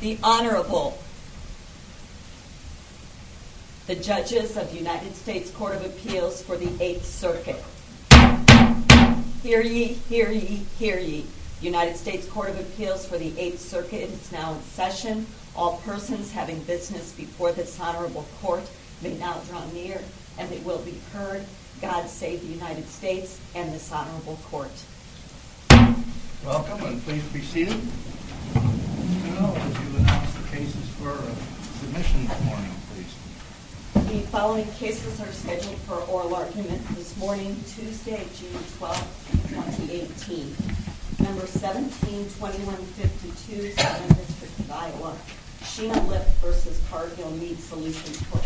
The Honorable, the Judges of the United States Court of Appeals for the 8th Circuit. Hear ye, hear ye, hear ye. United States Court of Appeals for the 8th Circuit is now in session. All persons having business before this Honorable Court may now draw near, and they will be heard. God save the United States and this Honorable Court. Welcome, and please be seated. As you announce the cases for submission this morning, please. The following cases are scheduled for oral argument this morning, Tuesday, June 12, 2018. No. 17-2152, Southern District of Iowa, Sheena Lipp v. Cargill Meat Solutions Corp.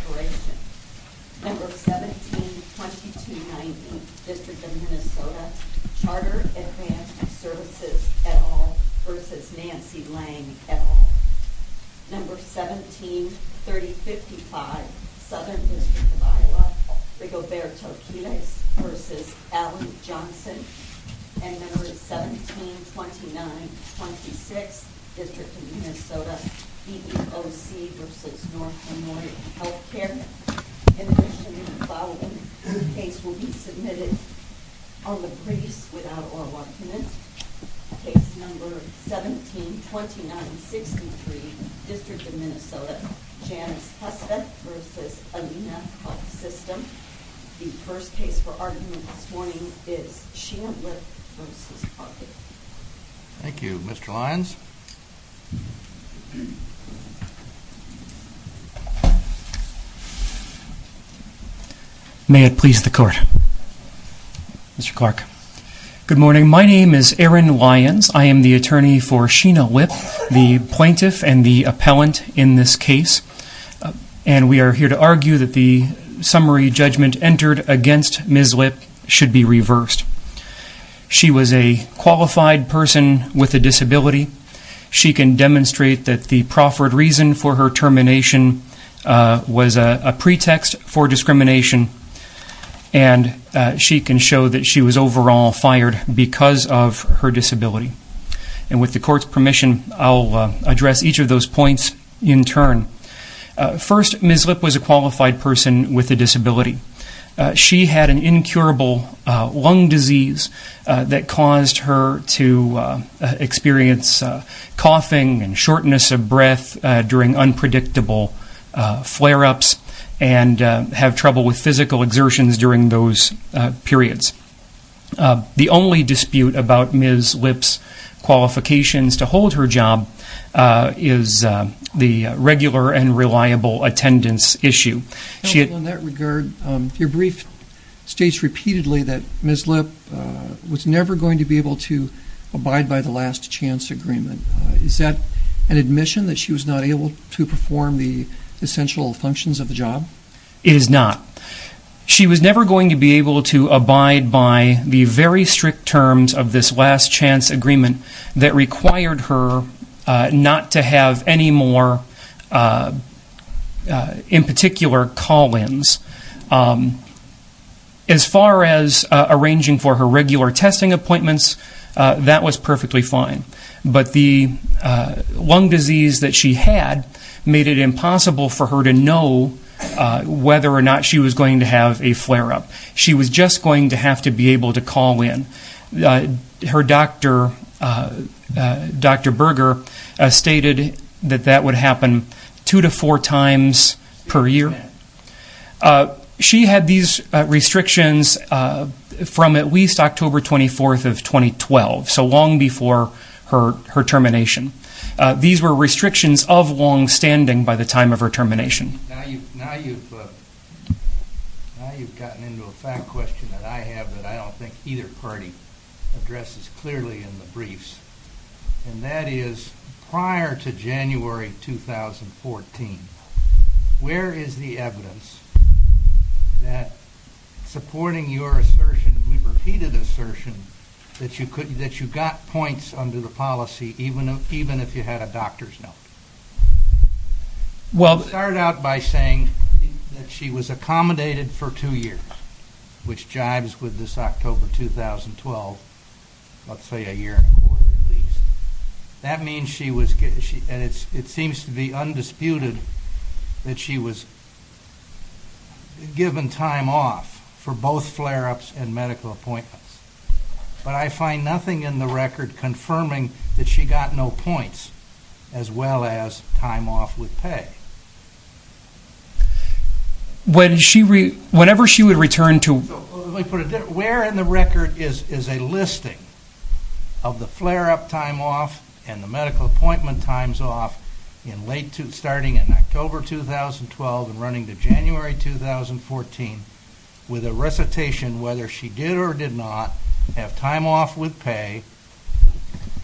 No. 17-2290, District of Minnesota, Chartered Advanced Services, et al. v. Nancy Lang, et al. No. 17-3055, Southern District of Iowa, Rigoberto Quinez v. Allen Johnson. And No. 17-2926, District of Minnesota, EEOC v. North Illinois Health Care. In addition, the following cases will be submitted on the briefs without oral argument. Case No. 17-2963, District of Minnesota, Janice Hussvedt v. Alina Health System. The first case for argument this morning is Sheena Lipp v. Cargill. Thank you. Mr. Lyons? May it please the Court. Mr. Clark. Good morning. My name is Aaron Lyons. I am the attorney for Sheena Lipp, the plaintiff and the appellant in this case, and we are here to argue that the summary judgment entered against Ms. Lipp should be reversed. She was a qualified person with a disability. She can demonstrate that the proffered reason for her termination was a pretext for discrimination, and she can show that she was overall fired because of her disability. And with the Court's permission, I'll address each of those points in turn. First, Ms. Lipp was a qualified person with a disability. She had an incurable lung disease that caused her to experience coughing and shortness of breath during unpredictable flare-ups and have trouble with physical exertions during those periods. The only dispute about Ms. Lipp's qualifications to hold her job is the regular and reliable attendance issue. In that regard, your brief states repeatedly that Ms. Lipp was never going to be able to abide by the last chance agreement. Is that an admission that she was not able to perform the essential functions of the job? It is not. She was never going to be able to abide by the very strict terms of this last chance agreement that required her not to have any more, in particular, call-ins. As far as arranging for her regular testing appointments, that was perfectly fine. But the lung disease that she had made it impossible for her to know whether or not she was going to have a flare-up. She was just going to have to be able to call in. Her doctor, Dr. Berger, stated that that would happen two to four times per year. She had these restrictions from at least October 24th of 2012, so long before her termination. These were restrictions of long-standing by the time of her termination. Now you've gotten into a fact question that I have that I don't think either party addresses clearly in the briefs. That is, prior to January 2014, where is the evidence that, supporting your assertion, your repeated assertion, that you got points under the policy even if you had a doctor's note? I'll start out by saying that she was accommodated for two years, which jibes with this October 2012, let's say a year and a quarter at least. That means she was, and it seems to be undisputed, that she was given time off for both flare-ups and medical appointments. But I find nothing in the record confirming that she got no points as well as time off with pay. Where in the record is a listing of the flare-up time off and the medical appointment times off starting in October 2012 and running to January 2014 with a recitation whether she did or did not have time off with pay,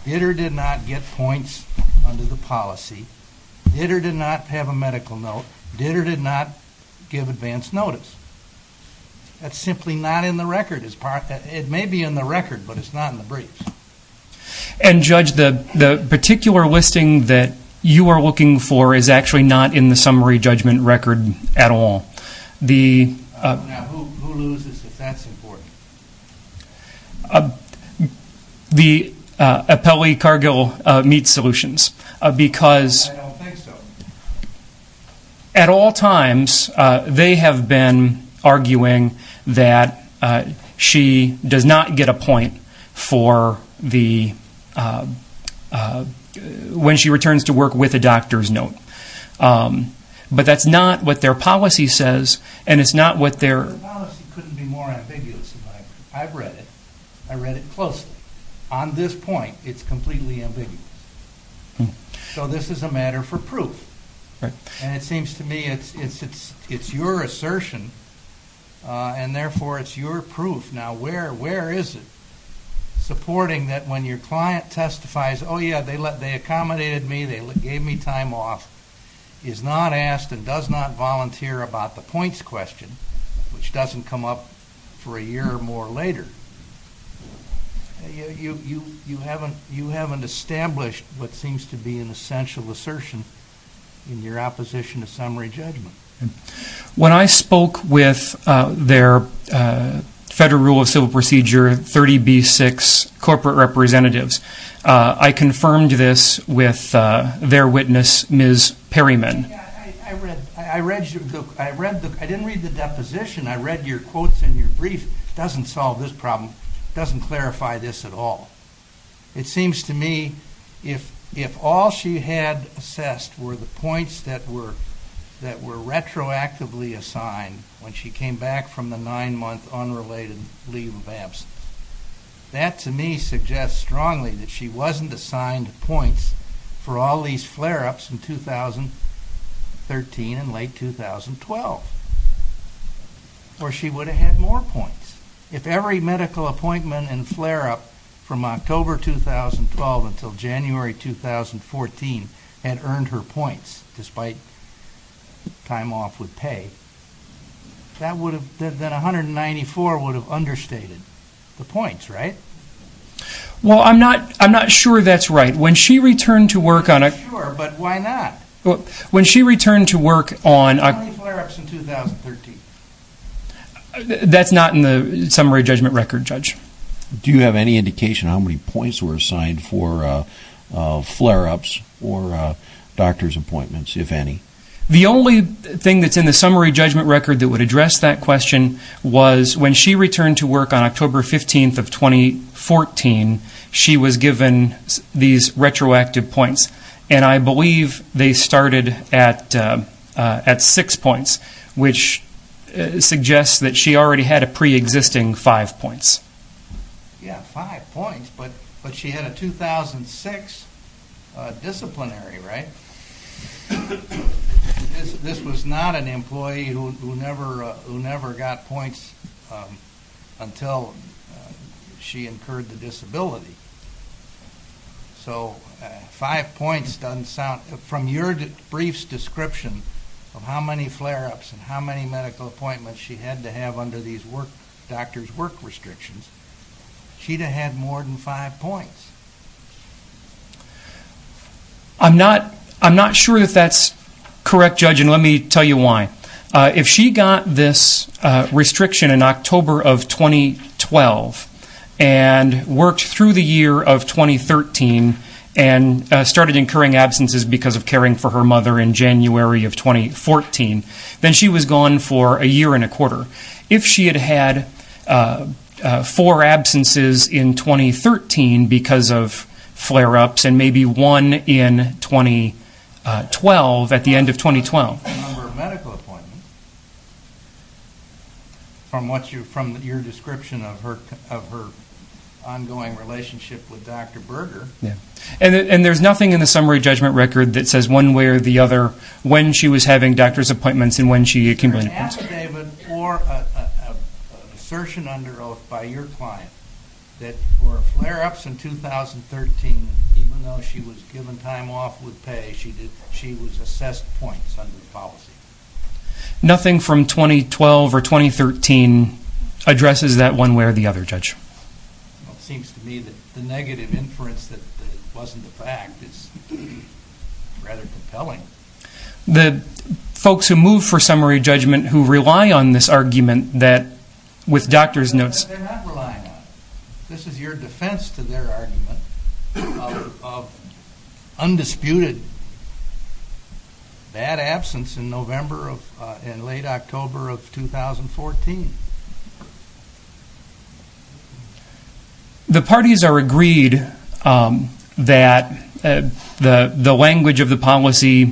did or did not get points under the policy, did or did not have a medical note, did or did not give advance notice. That's simply not in the record. It may be in the record, but it's not in the briefs. And, Judge, the particular listing that you are looking for is actually not in the summary judgment record at all. Now, who loses if that's important? The Apelli-Cargill Meat Solutions. I don't think so. At all times, they have been arguing that she does not get a point when she returns to work with a doctor's note. But that's not what their policy says, and it's not what their... The policy couldn't be more ambiguous. I've read it. I read it closely. On this point, it's completely ambiguous. So this is a matter for proof. And it seems to me it's your assertion, and therefore it's your proof. Now, where is it supporting that when your client testifies, oh, yeah, they accommodated me, they gave me time off, is not asked and does not volunteer about the points question, which doesn't come up for a year or more later, you haven't established what seems to be an essential assertion in your opposition to summary judgment. When I spoke with their Federal Rule of Civil Procedure 30B-6 corporate representatives, I confirmed this with their witness, Ms. Perryman. I read your book. I didn't read the deposition. I read your quotes in your brief. It doesn't solve this problem. It doesn't clarify this at all. It seems to me if all she had assessed were the points that were retroactively assigned when she came back from the nine-month unrelated leave of absence, that to me suggests strongly that she wasn't assigned points for all these flare-ups in 2013 and late 2012, or she would have had more points. If every medical appointment and flare-up from October 2012 until January 2014 had earned her points despite time off with pay, then 194 would have understated the points, right? Well, I'm not sure that's right. I'm not sure, but why not? How many flare-ups in 2013? That's not in the summary judgment record, Judge. Do you have any indication how many points were assigned for flare-ups or doctor's appointments, if any? The only thing that's in the summary judgment record that would address that question was when she returned to work on October 15th of 2014, she was given these retroactive points. And I believe they started at six points, which suggests that she already had a pre-existing five points. Yeah, five points, but she had a 2006 disciplinary, right? This was not an employee who never got points until she incurred the disability. So five points doesn't sound... From your brief's description of how many flare-ups and how many medical appointments she had to have under these doctor's work restrictions, she'd have had more than five points. I'm not sure that that's correct, Judge, and let me tell you why. If she got this restriction in October of 2012 and worked through the year of 2013 and started incurring absences because of caring for her mother in January of 2014, then she was gone for a year and a quarter. If she had had four absences in 2013 because of flare-ups and maybe one in 2012, at the end of 2012... ...number of medical appointments, from your description of her ongoing relationship with Dr. Berger... And there's nothing in the summary judgment record that says one way or the other when she was having doctor's appointments and when she accumulated points. ...or an assertion under oath by your client that were flare-ups in 2013, and even though she was given time off with pay, she was assessed points under the policy. Nothing from 2012 or 2013 addresses that one way or the other, Judge. It seems to me that the negative inference that it wasn't a fact is rather compelling. The folks who move for summary judgment who rely on this argument that, with doctor's notes... They're not relying on it. This is your defense to their argument of undisputed bad absence in November and late October of 2014. The parties are agreed that the language of the policy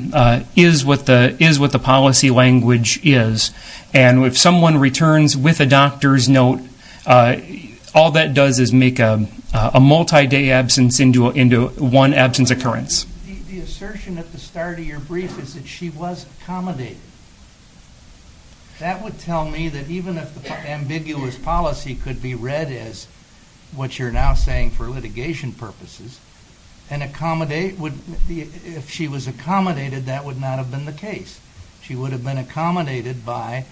is what the policy language is, and if someone returns with a doctor's note, all that does is make a multi-day absence into one absence occurrence. The assertion at the start of your brief is that she was accommodated. That would tell me that even if the ambiguous policy could be read as what you're now saying for litigation purposes, if she was accommodated, that would not have been the case. She would have been accommodated by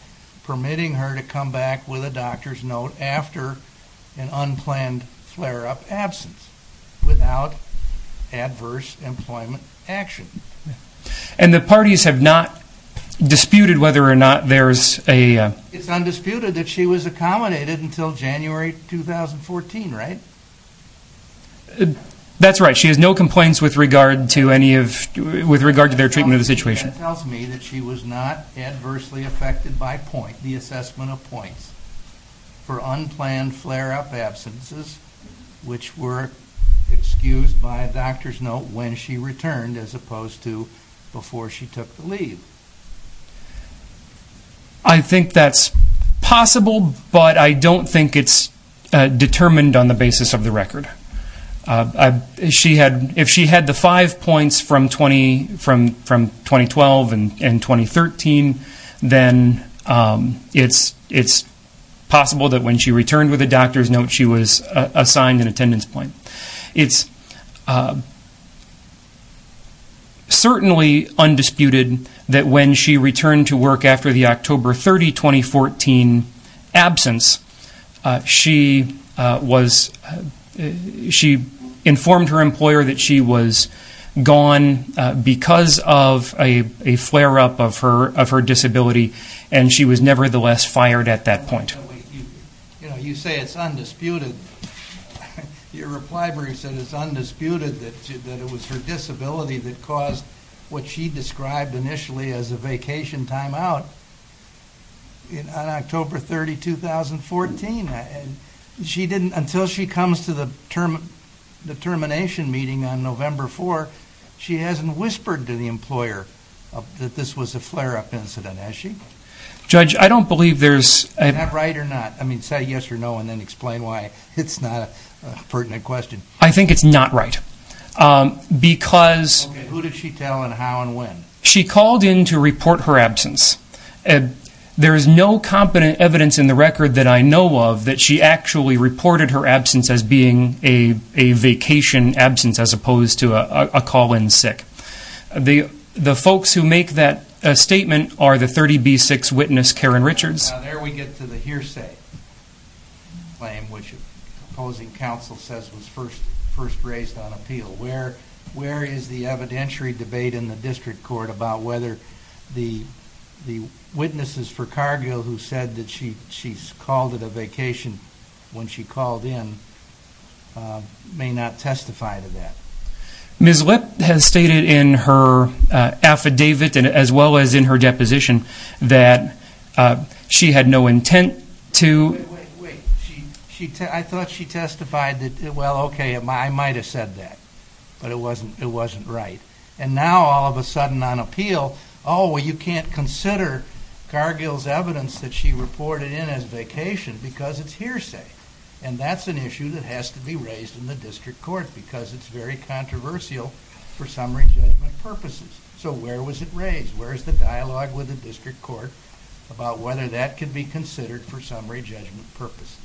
permitting her to come back with a doctor's note after an unplanned flare-up absence without adverse employment action. And the parties have not disputed whether or not there's a... It's undisputed that she was accommodated until January 2014, right? That's right. She has no complaints with regard to their treatment of the situation. That tells me that she was not adversely affected by the assessment of points for unplanned flare-up absences which were excused by a doctor's note when she returned as opposed to before she took the leave. I think that's possible, but I don't think it's determined on the basis of the record. If she had the five points from 2012 and 2013, then it's possible that when she returned with a doctor's note, she was assigned an attendance point. It's certainly undisputed that when she returned to work after the October 30, 2014 absence, she informed her employer that she was gone because of a flare-up of her disability and she was nevertheless fired at that point. You say it's undisputed. Your reply where you said it's undisputed that it was her disability that caused what she described initially as a vacation timeout on October 30, 2014. Until she comes to the termination meeting on November 4, she hasn't whispered to the employer that this was a flare-up incident, has she? Judge, I don't believe there's... Is that right or not? Say yes or no and then explain why it's not a pertinent question. I think it's not right because... Who did she tell and how and when? She called in to report her absence. There is no competent evidence in the record that I know of that she actually reported her absence as being a vacation absence as opposed to a call-in sick. The folks who make that statement are the 30B6 witness, Karen Richards. Now there we get to the hearsay claim which opposing counsel says was first raised on appeal. Where is the evidentiary debate in the district court about whether the witnesses for Cargill who said that she's called it a vacation when she called in may not testify to that? Ms. Lipp has stated in her affidavit as well as in her deposition that she had no intent to... Wait, wait, wait. I thought she testified that, well, okay, I might have said that. But it wasn't right. And now all of a sudden on appeal, oh, well, you can't consider Cargill's evidence that she reported in as vacation because it's hearsay. And that's an issue that has to be raised in the district court because it's very controversial for summary judgment purposes. So where was it raised? Where is the dialogue with the district court about whether that can be considered for summary judgment purposes?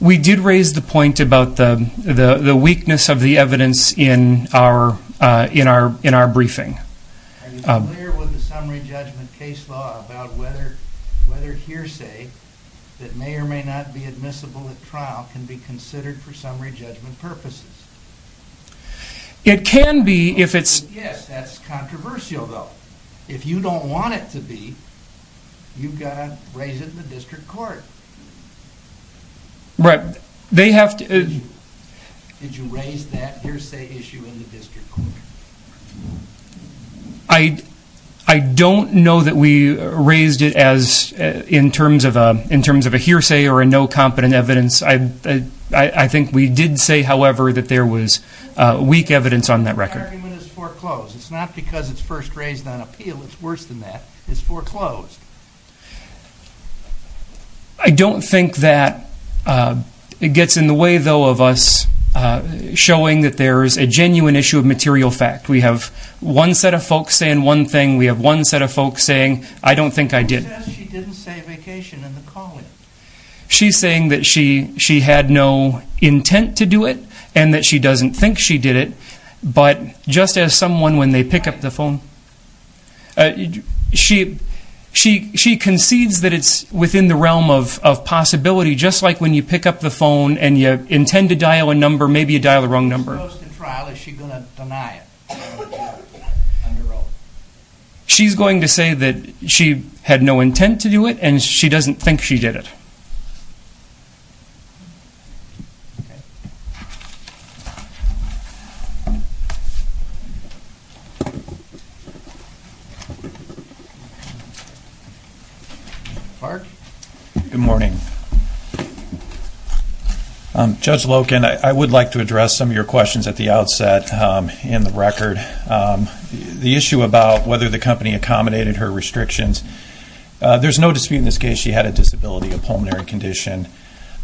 We did raise the point about the weakness of the evidence in our briefing. Are you clear with the summary judgment case law about whether hearsay that may or may not be admissible at trial can be considered for summary judgment purposes? It can be if it's... Yes, that's controversial though. If you don't want it to be, you've got to raise it in the district court. Right. They have to... Did you raise that hearsay issue in the district court? I don't know that we raised it in terms of a hearsay or a no competent evidence. I think we did say, however, that there was weak evidence on that record. The argument is foreclosed. It's not because it's first raised on appeal. It's worse than that. It's foreclosed. I don't think that it gets in the way though of us showing that there is a genuine issue of material fact. We have one set of folks saying one thing. We have one set of folks saying, I don't think I did. She says she didn't say vacation in the call-in. She's saying that she had no intent to do it and that she doesn't think she did it, but just as someone when they pick up the phone... She concedes that it's within the realm of possibility, just like when you pick up the phone and you intend to dial a number, maybe you dial the wrong number. She's going to say that she had no intent to do it and she doesn't think she did it. Mark? Good morning. Judge Loken, I would like to address some of your questions at the outset in the record. The issue about whether the company accommodated her restrictions, there's no dispute in this case she had a disability, a pulmonary condition,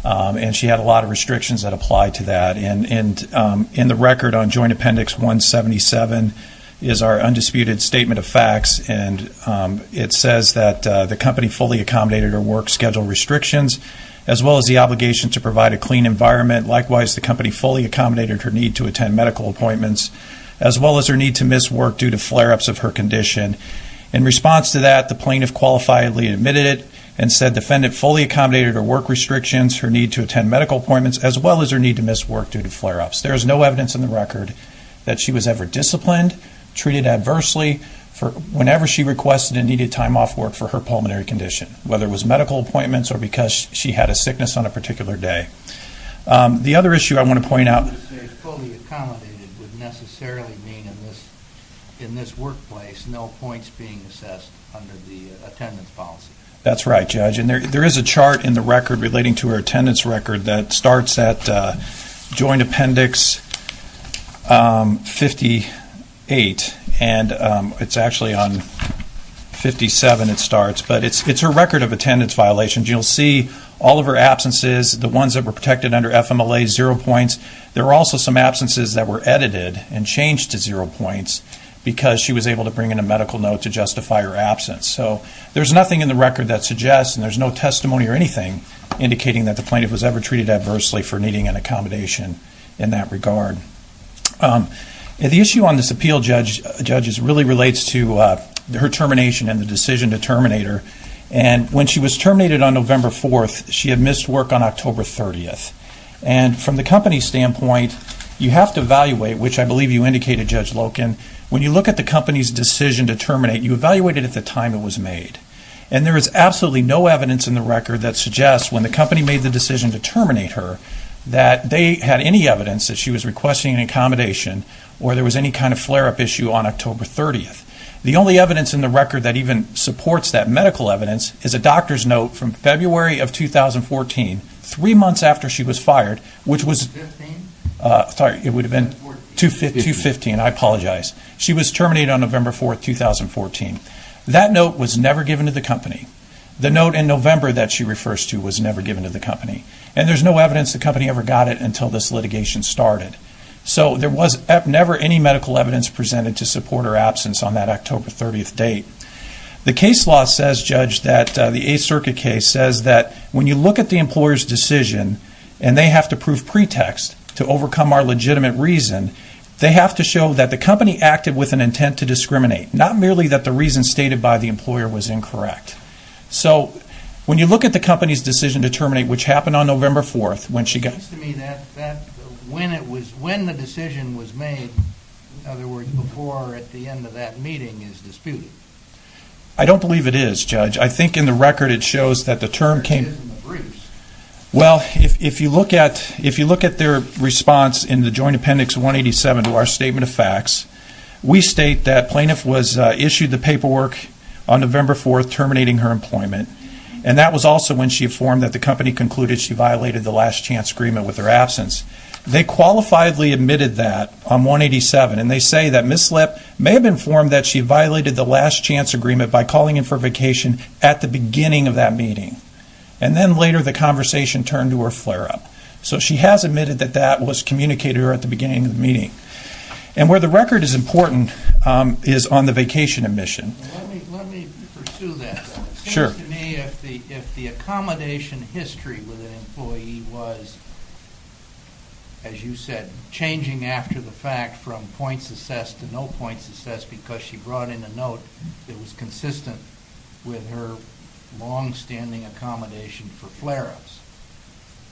and she had a lot of restrictions that applied to that. In the record on Joint Appendix 177 is our undisputed statement of facts, and it says that the company fully accommodated her work schedule restrictions, as well as the obligation to provide a clean environment. Likewise, the company fully accommodated her need to attend medical appointments, as well as her need to miss work due to flare-ups of her condition. In response to that, the plaintiff qualifiably admitted it and said the defendant fully accommodated her work restrictions, her need to attend medical appointments, as well as her need to miss work due to flare-ups. There's no evidence in the record that she was ever disciplined, treated adversely, whenever she requested and needed time off work for her pulmonary condition, whether it was medical appointments or because she had a sickness on a particular day. The other issue I want to point out... ...would necessarily mean in this workplace no points being assessed under the attendance policy. That's right, Judge, and there is a chart in the record relating to her attendance record that starts at Joint Appendix 58, and it's actually on 57 it starts, but it's her record of attendance violations. You'll see all of her absences, the ones that were protected under FMLA, zero points. There were also some absences that were edited and changed to zero points because she was able to bring in a medical note to justify her absence. So there's nothing in the record that suggests, and there's no testimony or anything, indicating that the plaintiff was ever treated adversely for needing an accommodation in that regard. The issue on this appeal, Judge, really relates to her termination and the decision to terminate her, and when she was terminated on November 4th, she had missed work on October 30th. And from the company's standpoint, you have to evaluate, which I believe you indicated, Judge Loken, when you look at the company's decision to terminate, you evaluate it at the time it was made. And there is absolutely no evidence in the record that suggests, when the company made the decision to terminate her, that they had any evidence that she was requesting an accommodation or there was any kind of flare-up issue on October 30th. The only evidence in the record that even supports that medical evidence is a doctor's note from February of 2014, three months after she was fired, which was 2015. I apologize. She was terminated on November 4th, 2014. That note was never given to the company. The note in November that she refers to was never given to the company. And there's no evidence the company ever got it until this litigation started. So there was never any medical evidence presented to support her absence on that October 30th date. The case law says, Judge, that the Eighth Circuit case says that when you look at the employer's decision and they have to prove pretext to overcome our legitimate reason, they have to show that the company acted with an intent to discriminate, not merely that the reason stated by the employer was incorrect. So when you look at the company's decision to terminate, which happened on November 4th, when she got... It seems to me that when the decision was made, in other words, before or at the end of that meeting, is disputed. I don't believe it is, Judge. I think in the record it shows that the term came... It is in the briefs. Well, if you look at their response in the Joint Appendix 187 to our statement of facts, we state that plaintiff was issued the paperwork on November 4th terminating her employment, and that was also when she informed that the company concluded she violated the last chance agreement with her absence. They qualifiably admitted that on 187, and they say that Ms. Slepp may have informed that she violated the last chance agreement by calling in for vacation at the beginning of that meeting. And then later the conversation turned to her flare-up. So she has admitted that that was communicated to her at the beginning of the meeting. And where the record is important is on the vacation admission. Let me pursue that. It seems to me if the accommodation history with an employee was, as you said, changing after the fact from points assessed to no points assessed because she brought in a note that was consistent with her longstanding accommodation for flare-ups,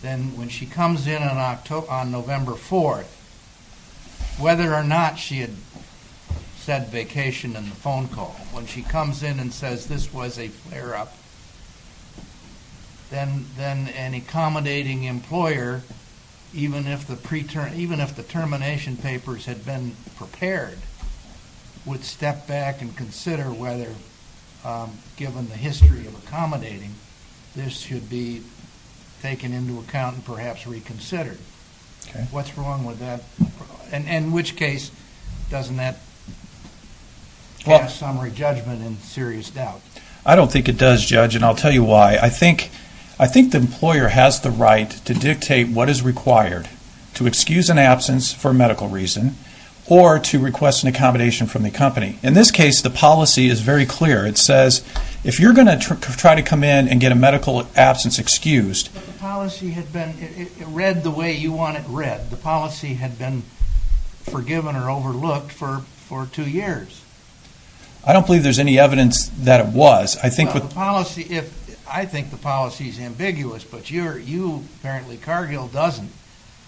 then when she comes in on November 4th, whether or not she had said vacation in the phone call, when she comes in and says this was a flare-up, then an accommodating employer, even if the termination papers had been prepared, would step back and consider whether, given the history of accommodating, this should be taken into account and perhaps reconsidered. What's wrong with that? And in which case doesn't that pass summary judgment in serious doubt? I don't think it does, Judge, and I'll tell you why. I think the employer has the right to dictate what is required, to excuse an absence for medical reason or to request an accommodation from the company. In this case, the policy is very clear. It says if you're going to try to come in and get a medical absence excused. But the policy had been read the way you want it read. The policy had been forgiven or overlooked for two years. I don't believe there's any evidence that it was. I think the policy is ambiguous, but you, apparently, Cargill doesn't.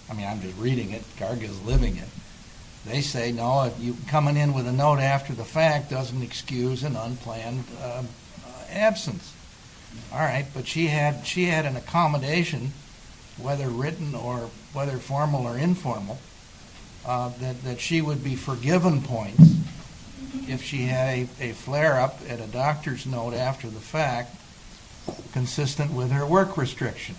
I mean, I'm just reading it. Cargill is living it. They say, no, coming in with a note after the fact doesn't excuse an unplanned absence. All right, but she had an accommodation, whether written or whether formal or informal, that she would be forgiven points if she had a flare-up at a doctor's note after the fact, consistent with her work restriction.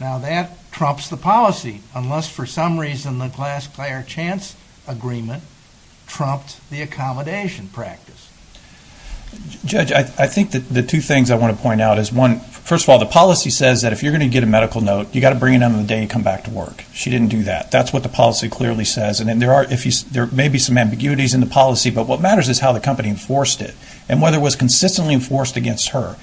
Now, that trumps the policy, unless for some reason the Glass-Clair-Chance agreement trumped the accommodation practice. Judge, I think the two things I want to point out is, first of all, the policy says that if you're going to get a medical note, you've got to bring it in on the day you come back to work. She didn't do that. That's what the policy clearly says. And there may be some ambiguities in the policy, but what matters is how the company enforced it and whether it was consistently enforced against her.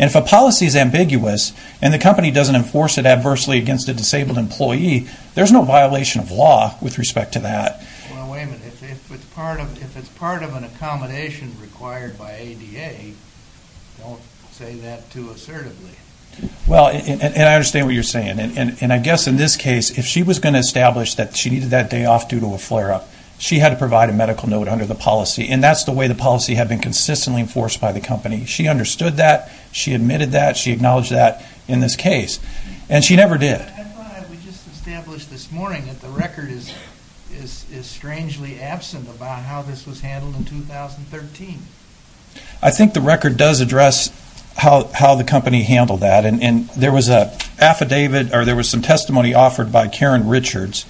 And if a policy is ambiguous and the company doesn't enforce it adversely against a disabled employee, there's no violation of law with respect to that. Well, wait a minute. If it's part of an accommodation required by ADA, don't say that too assertively. Well, and I understand what you're saying. And I guess in this case, if she was going to establish that she needed that day off due to a flare-up, she had to provide a medical note under the policy. And that's the way the policy had been consistently enforced by the company. She understood that. She admitted that. She acknowledged that in this case. And she never did. I thought we just established this morning that the record is strangely absent about how this was handled in 2013. I think the record does address how the company handled that. And there was an affidavit, or there was some testimony offered by Karen Richards.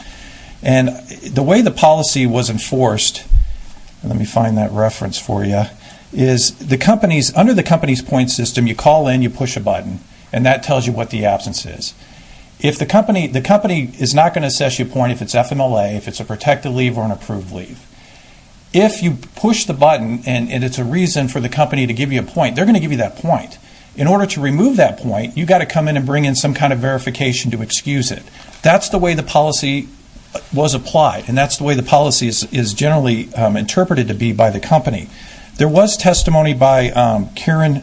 And the way the policy was enforced, let me find that reference for you, is under the company's point system, you call in, you push a button, and that tells you what the absence is. The company is not going to assess your point if it's FMLA, if it's a protected leave or an approved leave. If you push the button and it's a reason for the company to give you a point, they're going to give you that point. In order to remove that point, you've got to come in and bring in some kind of verification to excuse it. That's the way the policy was applied. And that's the way the policy is generally interpreted to be by the company. There was testimony by Karen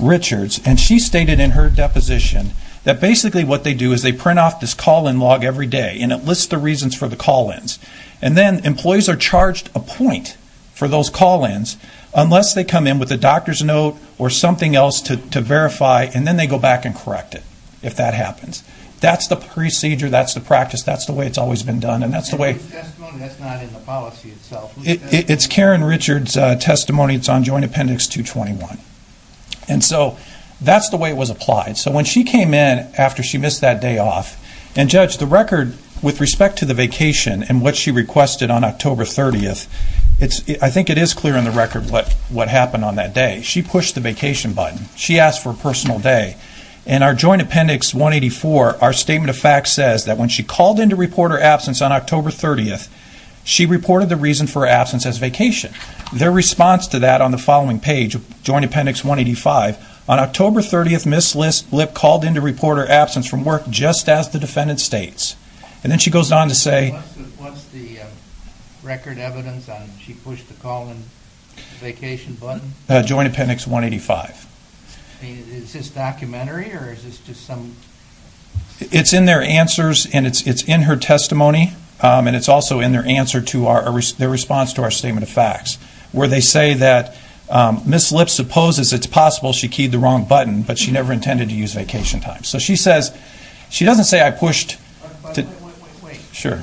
Richards, and she stated in her deposition that basically what they do is they print off this call-in log every day, and it lists the reasons for the call-ins. And then employees are charged a point for those call-ins unless they come in with a doctor's note or something else to verify, and then they go back and correct it if that happens. That's the procedure. That's the practice. That's the way it's always been done. And that's the way... That's not in the policy itself. It's Karen Richards' testimony. It's on Joint Appendix 221. And so that's the way it was applied. So when she came in after she missed that day off, and, Judge, the record with respect to the vacation and what she requested on October 30th, I think it is clear in the record what happened on that day. She pushed the vacation button. She asked for a personal day. In our Joint Appendix 184, our Statement of Facts says that when she called in to report her absence on October 30th, she reported the reason for her absence as vacation. Their response to that on the following page, Joint Appendix 185, says that on October 30th, Ms. Lip called in to report her absence from work just as the defendant states. And then she goes on to say... What's the record evidence on she pushed the call-in vacation button? Joint Appendix 185. Is this documentary or is this just some... It's in their answers and it's in her testimony. And it's also in their response to our Statement of Facts where they say that Ms. Lip supposes it's possible she keyed the wrong button, but she never intended to use vacation time. So she says... She doesn't say I pushed... Wait, wait, wait. Sure.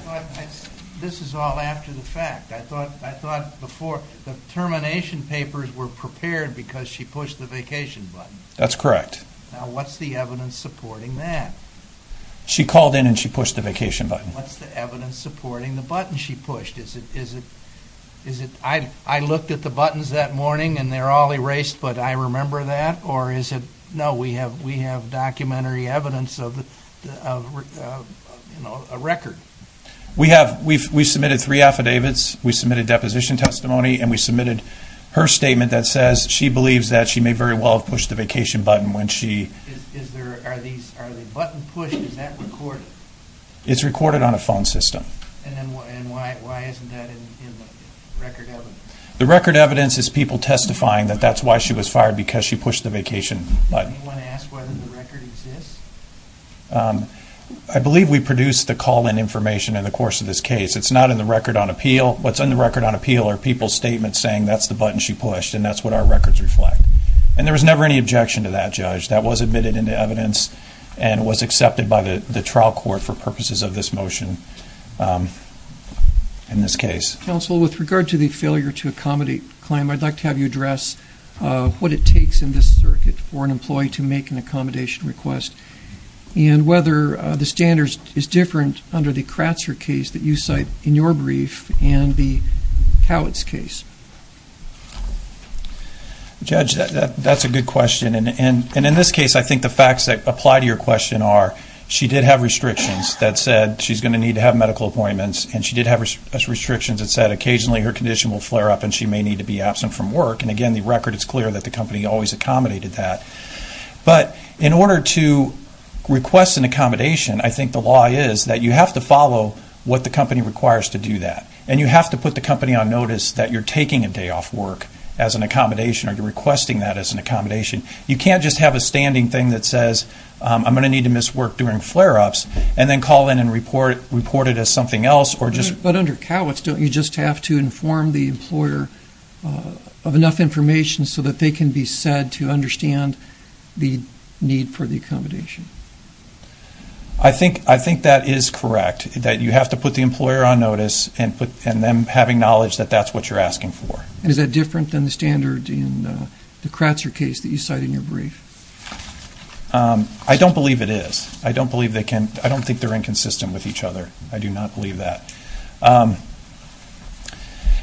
This is all after the fact. I thought before the termination papers were prepared because she pushed the vacation button. That's correct. Now what's the evidence supporting that? She called in and she pushed the vacation button. What's the evidence supporting the button she pushed? I looked at the buttons that morning and they're all erased, but I remember that? Or is it... No, we have documentary evidence of a record. We submitted three affidavits. We submitted deposition testimony. And we submitted her statement that says she believes that she may very well have pushed the vacation button when she... Are the buttons pushed? Is that recorded? It's recorded on a phone system. And why isn't that in the record evidence? The record evidence is people testifying that that's why she was fired, because she pushed the vacation button. Does anyone ask whether the record exists? I believe we produced the call-in information in the course of this case. It's not in the record on appeal. What's in the record on appeal are people's statements saying that's the button she pushed and that's what our records reflect. And there was never any objection to that, Judge. That was admitted into evidence and was accepted by the trial court for purposes of this motion in this case. Counsel, with regard to the failure to accommodate claim, I'd like to have you address what it takes in this circuit for an employee to make an accommodation request and whether the standard is different under the Kratzer case that you cite in your brief and the Cowitz case. Judge, that's a good question. And in this case, I think the facts that apply to your question are she did have restrictions that said she's going to need to have medical appointments, and she did have restrictions that said occasionally her condition will flare up and she may need to be absent from work. And, again, the record is clear that the company always accommodated that. But in order to request an accommodation, I think the law is that you have to follow what the company requires to do that. And you have to put the company on notice that you're taking a day off work as an accommodation or you're requesting that as an accommodation. You can't just have a standing thing that says I'm going to need to miss work during flare-ups and then call in and report it as something else. But under Cowitz, don't you just have to inform the employer of enough information so that they can be said to understand the need for the accommodation? I think that is correct, that you have to put the employer on notice and them having knowledge that that's what you're asking for. And is that different than the standard in the Kratzer case that you cite in your brief? I don't believe it is. I don't think they're inconsistent with each other. I do not believe that.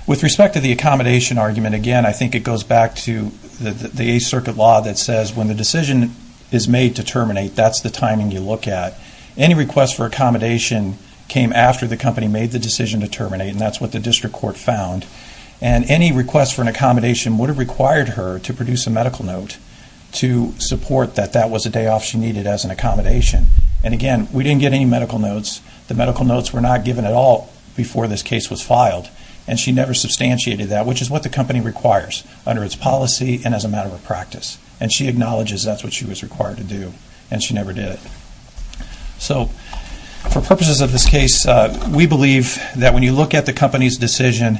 With respect to the accommodation argument, again, I think it goes back to the Eighth Circuit law that says when the decision is made to terminate, that's the timing you look at. Any request for accommodation came after the company made the decision to terminate, and that's what the district court found. And any request for an accommodation would have required her to produce a medical note to support that that was a day off she needed as an accommodation. And, again, we didn't get any medical notes. The medical notes were not given at all before this case was filed, and she never substantiated that, which is what the company requires under its policy and as a matter of practice. And she acknowledges that's what she was required to do, and she never did it. So for purposes of this case, we believe that when you look at the company's decision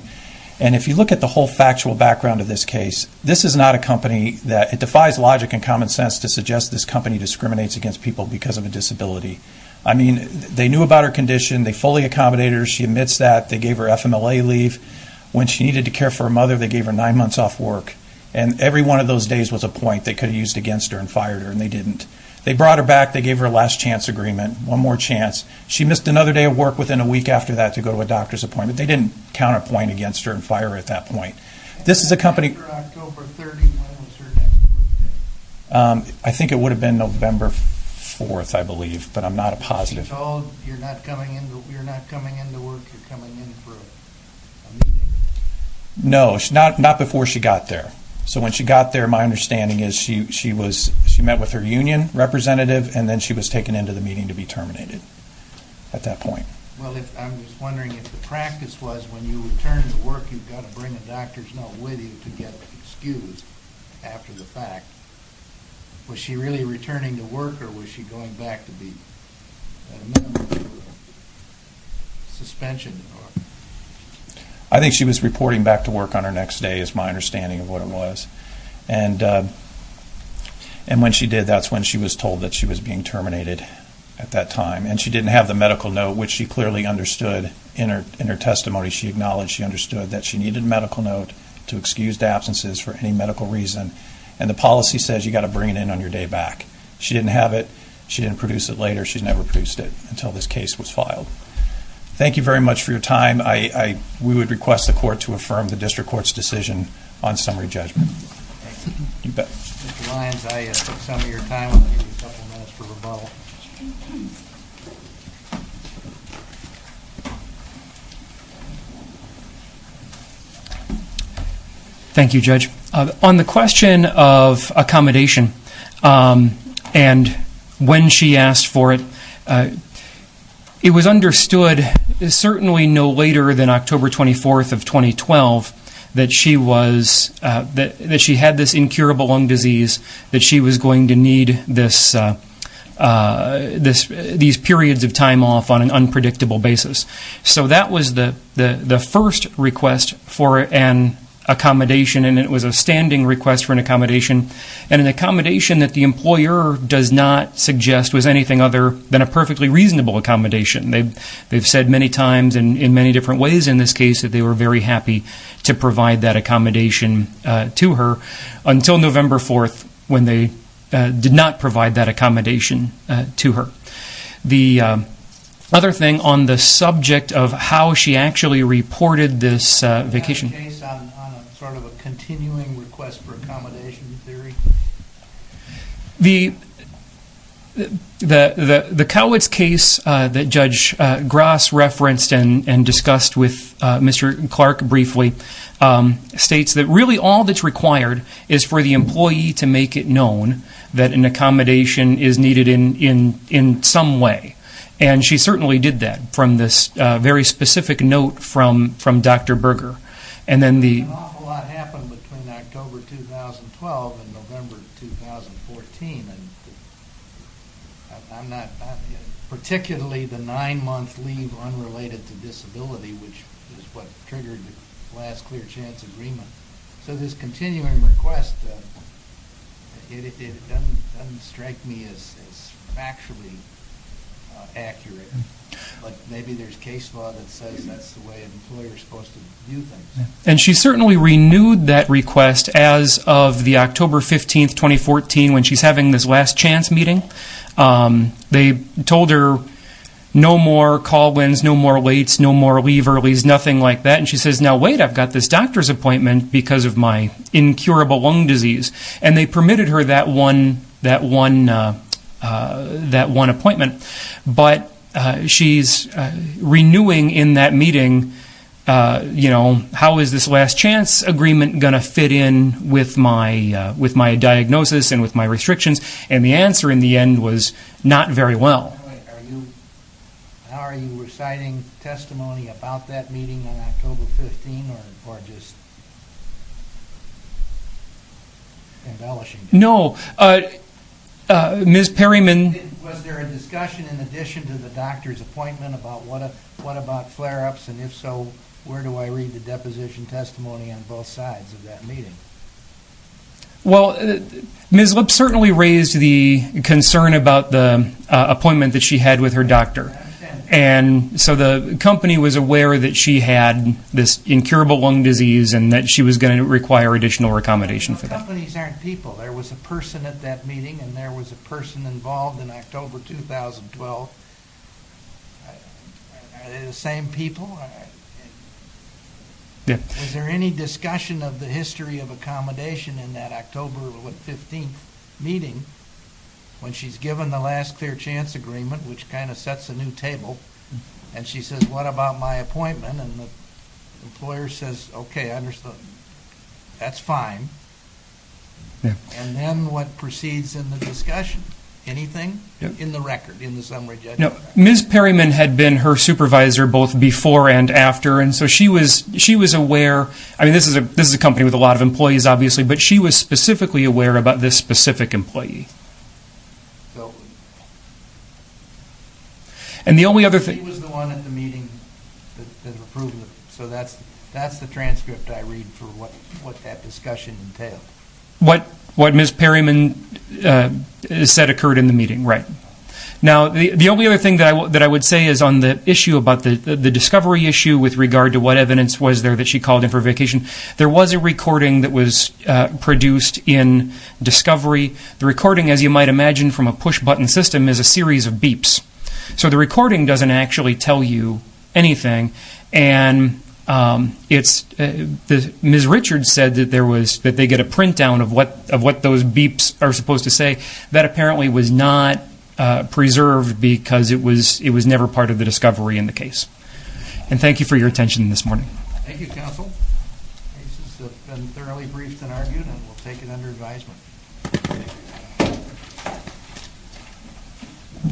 and if you look at the whole factual background of this case, this is not a company that defies logic and common sense to suggest this company discriminates against people because of a disability. I mean, they knew about her condition. They fully accommodated her. She admits that. They gave her FMLA leave. When she needed to care for her mother, they gave her nine months off work. And every one of those days was a point they could have used against her and fired her, and they didn't. They brought her back. They gave her a last chance agreement, one more chance. She missed another day of work within a week after that to go to a doctor's appointment. They didn't count a point against her and fire her at that point. This is a company... When was her next birthday? I think it would have been November 4th, I believe, but I'm not a positive. She told you're not coming into work, you're coming in for a meeting? No, not before she got there. So when she got there, my understanding is she met with her union representative and then she was taken into the meeting to be terminated at that point. Well, I'm just wondering if the practice was when you return to work, you've got to bring a doctor's note with you to get excused after the fact. Was she really returning to work or was she going back to be a member of the suspension? I think she was reporting back to work on her next day is my understanding of what it was. And when she did, that's when she was told that she was being terminated at that time. And she didn't have the medical note, which she clearly understood in her testimony. She acknowledged she understood that she needed a medical note to excuse absences for any medical reason. And the policy says you've got to bring it in on your day back. She didn't have it. She didn't produce it later. She never produced it until this case was filed. Thank you very much for your time. We would request the court to affirm the district court's decision on summary judgment. Thank you. You bet. Mr. Lyons, I took some of your time. I'm going to give you a couple minutes for rebuttal. Thank you, Judge. On the question of accommodation and when she asked for it, it was understood certainly no later than October 24th of 2012 that she had this incurable lung disease that she was going to need these periods of time off on an unpredictable basis. So that was the first request for an accommodation. And it was a standing request for an accommodation. And an accommodation that the employer does not suggest was anything other than a perfectly reasonable accommodation. They've said many times in many different ways in this case that they were very happy to provide that accommodation to her until November 4th when they did not provide that accommodation to her. The other thing on the subject of how she actually reported this vacation. Is that a case on sort of a continuing request for accommodation theory? The Cowitz case that Judge Grass referenced and discussed with Mr. Clark briefly states that really all that's required is for the employee to make it known that an accommodation is needed in some way. And she certainly did that from this very specific note from Dr. Berger. An awful lot happened between October 2012 and November 2014. Particularly the nine month leave unrelated to disability which is what triggered the last clear chance agreement. So this continuing request, it doesn't strike me as factually accurate. Maybe there's case law that says that's the way an employer is supposed to do things. And she certainly renewed that request as of the October 15th, 2014 when she's having this last chance meeting. They told her no more call wins, no more waits, no more leave earlies, nothing like that. And she says, now wait, I've got this doctor's appointment because of my incurable lung disease. And they permitted her that one appointment. But she's renewing in that meeting how is this last chance agreement going to fit in with my diagnosis and with my restrictions. And the answer in the end was not very well. Are you reciting testimony about that meeting on October 15th or just embellishing it? No. Ms. Perryman. Was there a discussion in addition to the doctor's appointment about what about flare ups and if so, where do I read the deposition testimony on both sides of that meeting? Well, Ms. Lipp certainly raised the concern about the appointment that she had with her doctor. And so the company was aware that she had this incurable lung disease and that she was going to require additional recommendation for that. The companies aren't people. There was a person at that meeting and there was a person involved in October 2012. Are they the same people? Is there any discussion of the history of accommodation in that October 15th meeting when she's given the last clear chance agreement, which kind of sets a new table, and she says, what about my appointment? And the employer says, okay, I understand. That's fine. And then what proceeds in the discussion? Anything in the record, in the summary judgment? No. Ms. Perryman had been her supervisor both before and after, and so she was aware. I mean, this is a company with a lot of employees, obviously, but she was specifically aware about this specific employee. She was the one at the meeting that approved it, so that's the transcript I read for what that discussion entailed. What Ms. Perryman said occurred in the meeting, right. Now, the only other thing that I would say is on the issue about the discovery issue with regard to what evidence was there that she called in for vacation, there was a recording that was produced in discovery. The recording, as you might imagine from a push-button system, is a series of beeps. So the recording doesn't actually tell you anything, and Ms. Richards said that they get a print-down of what those beeps are supposed to say. That apparently was not preserved because it was never part of the discovery in the case. And thank you for your attention this morning. Thank you, counsel. The cases have been thoroughly briefed and argued, and we'll take it under advisement.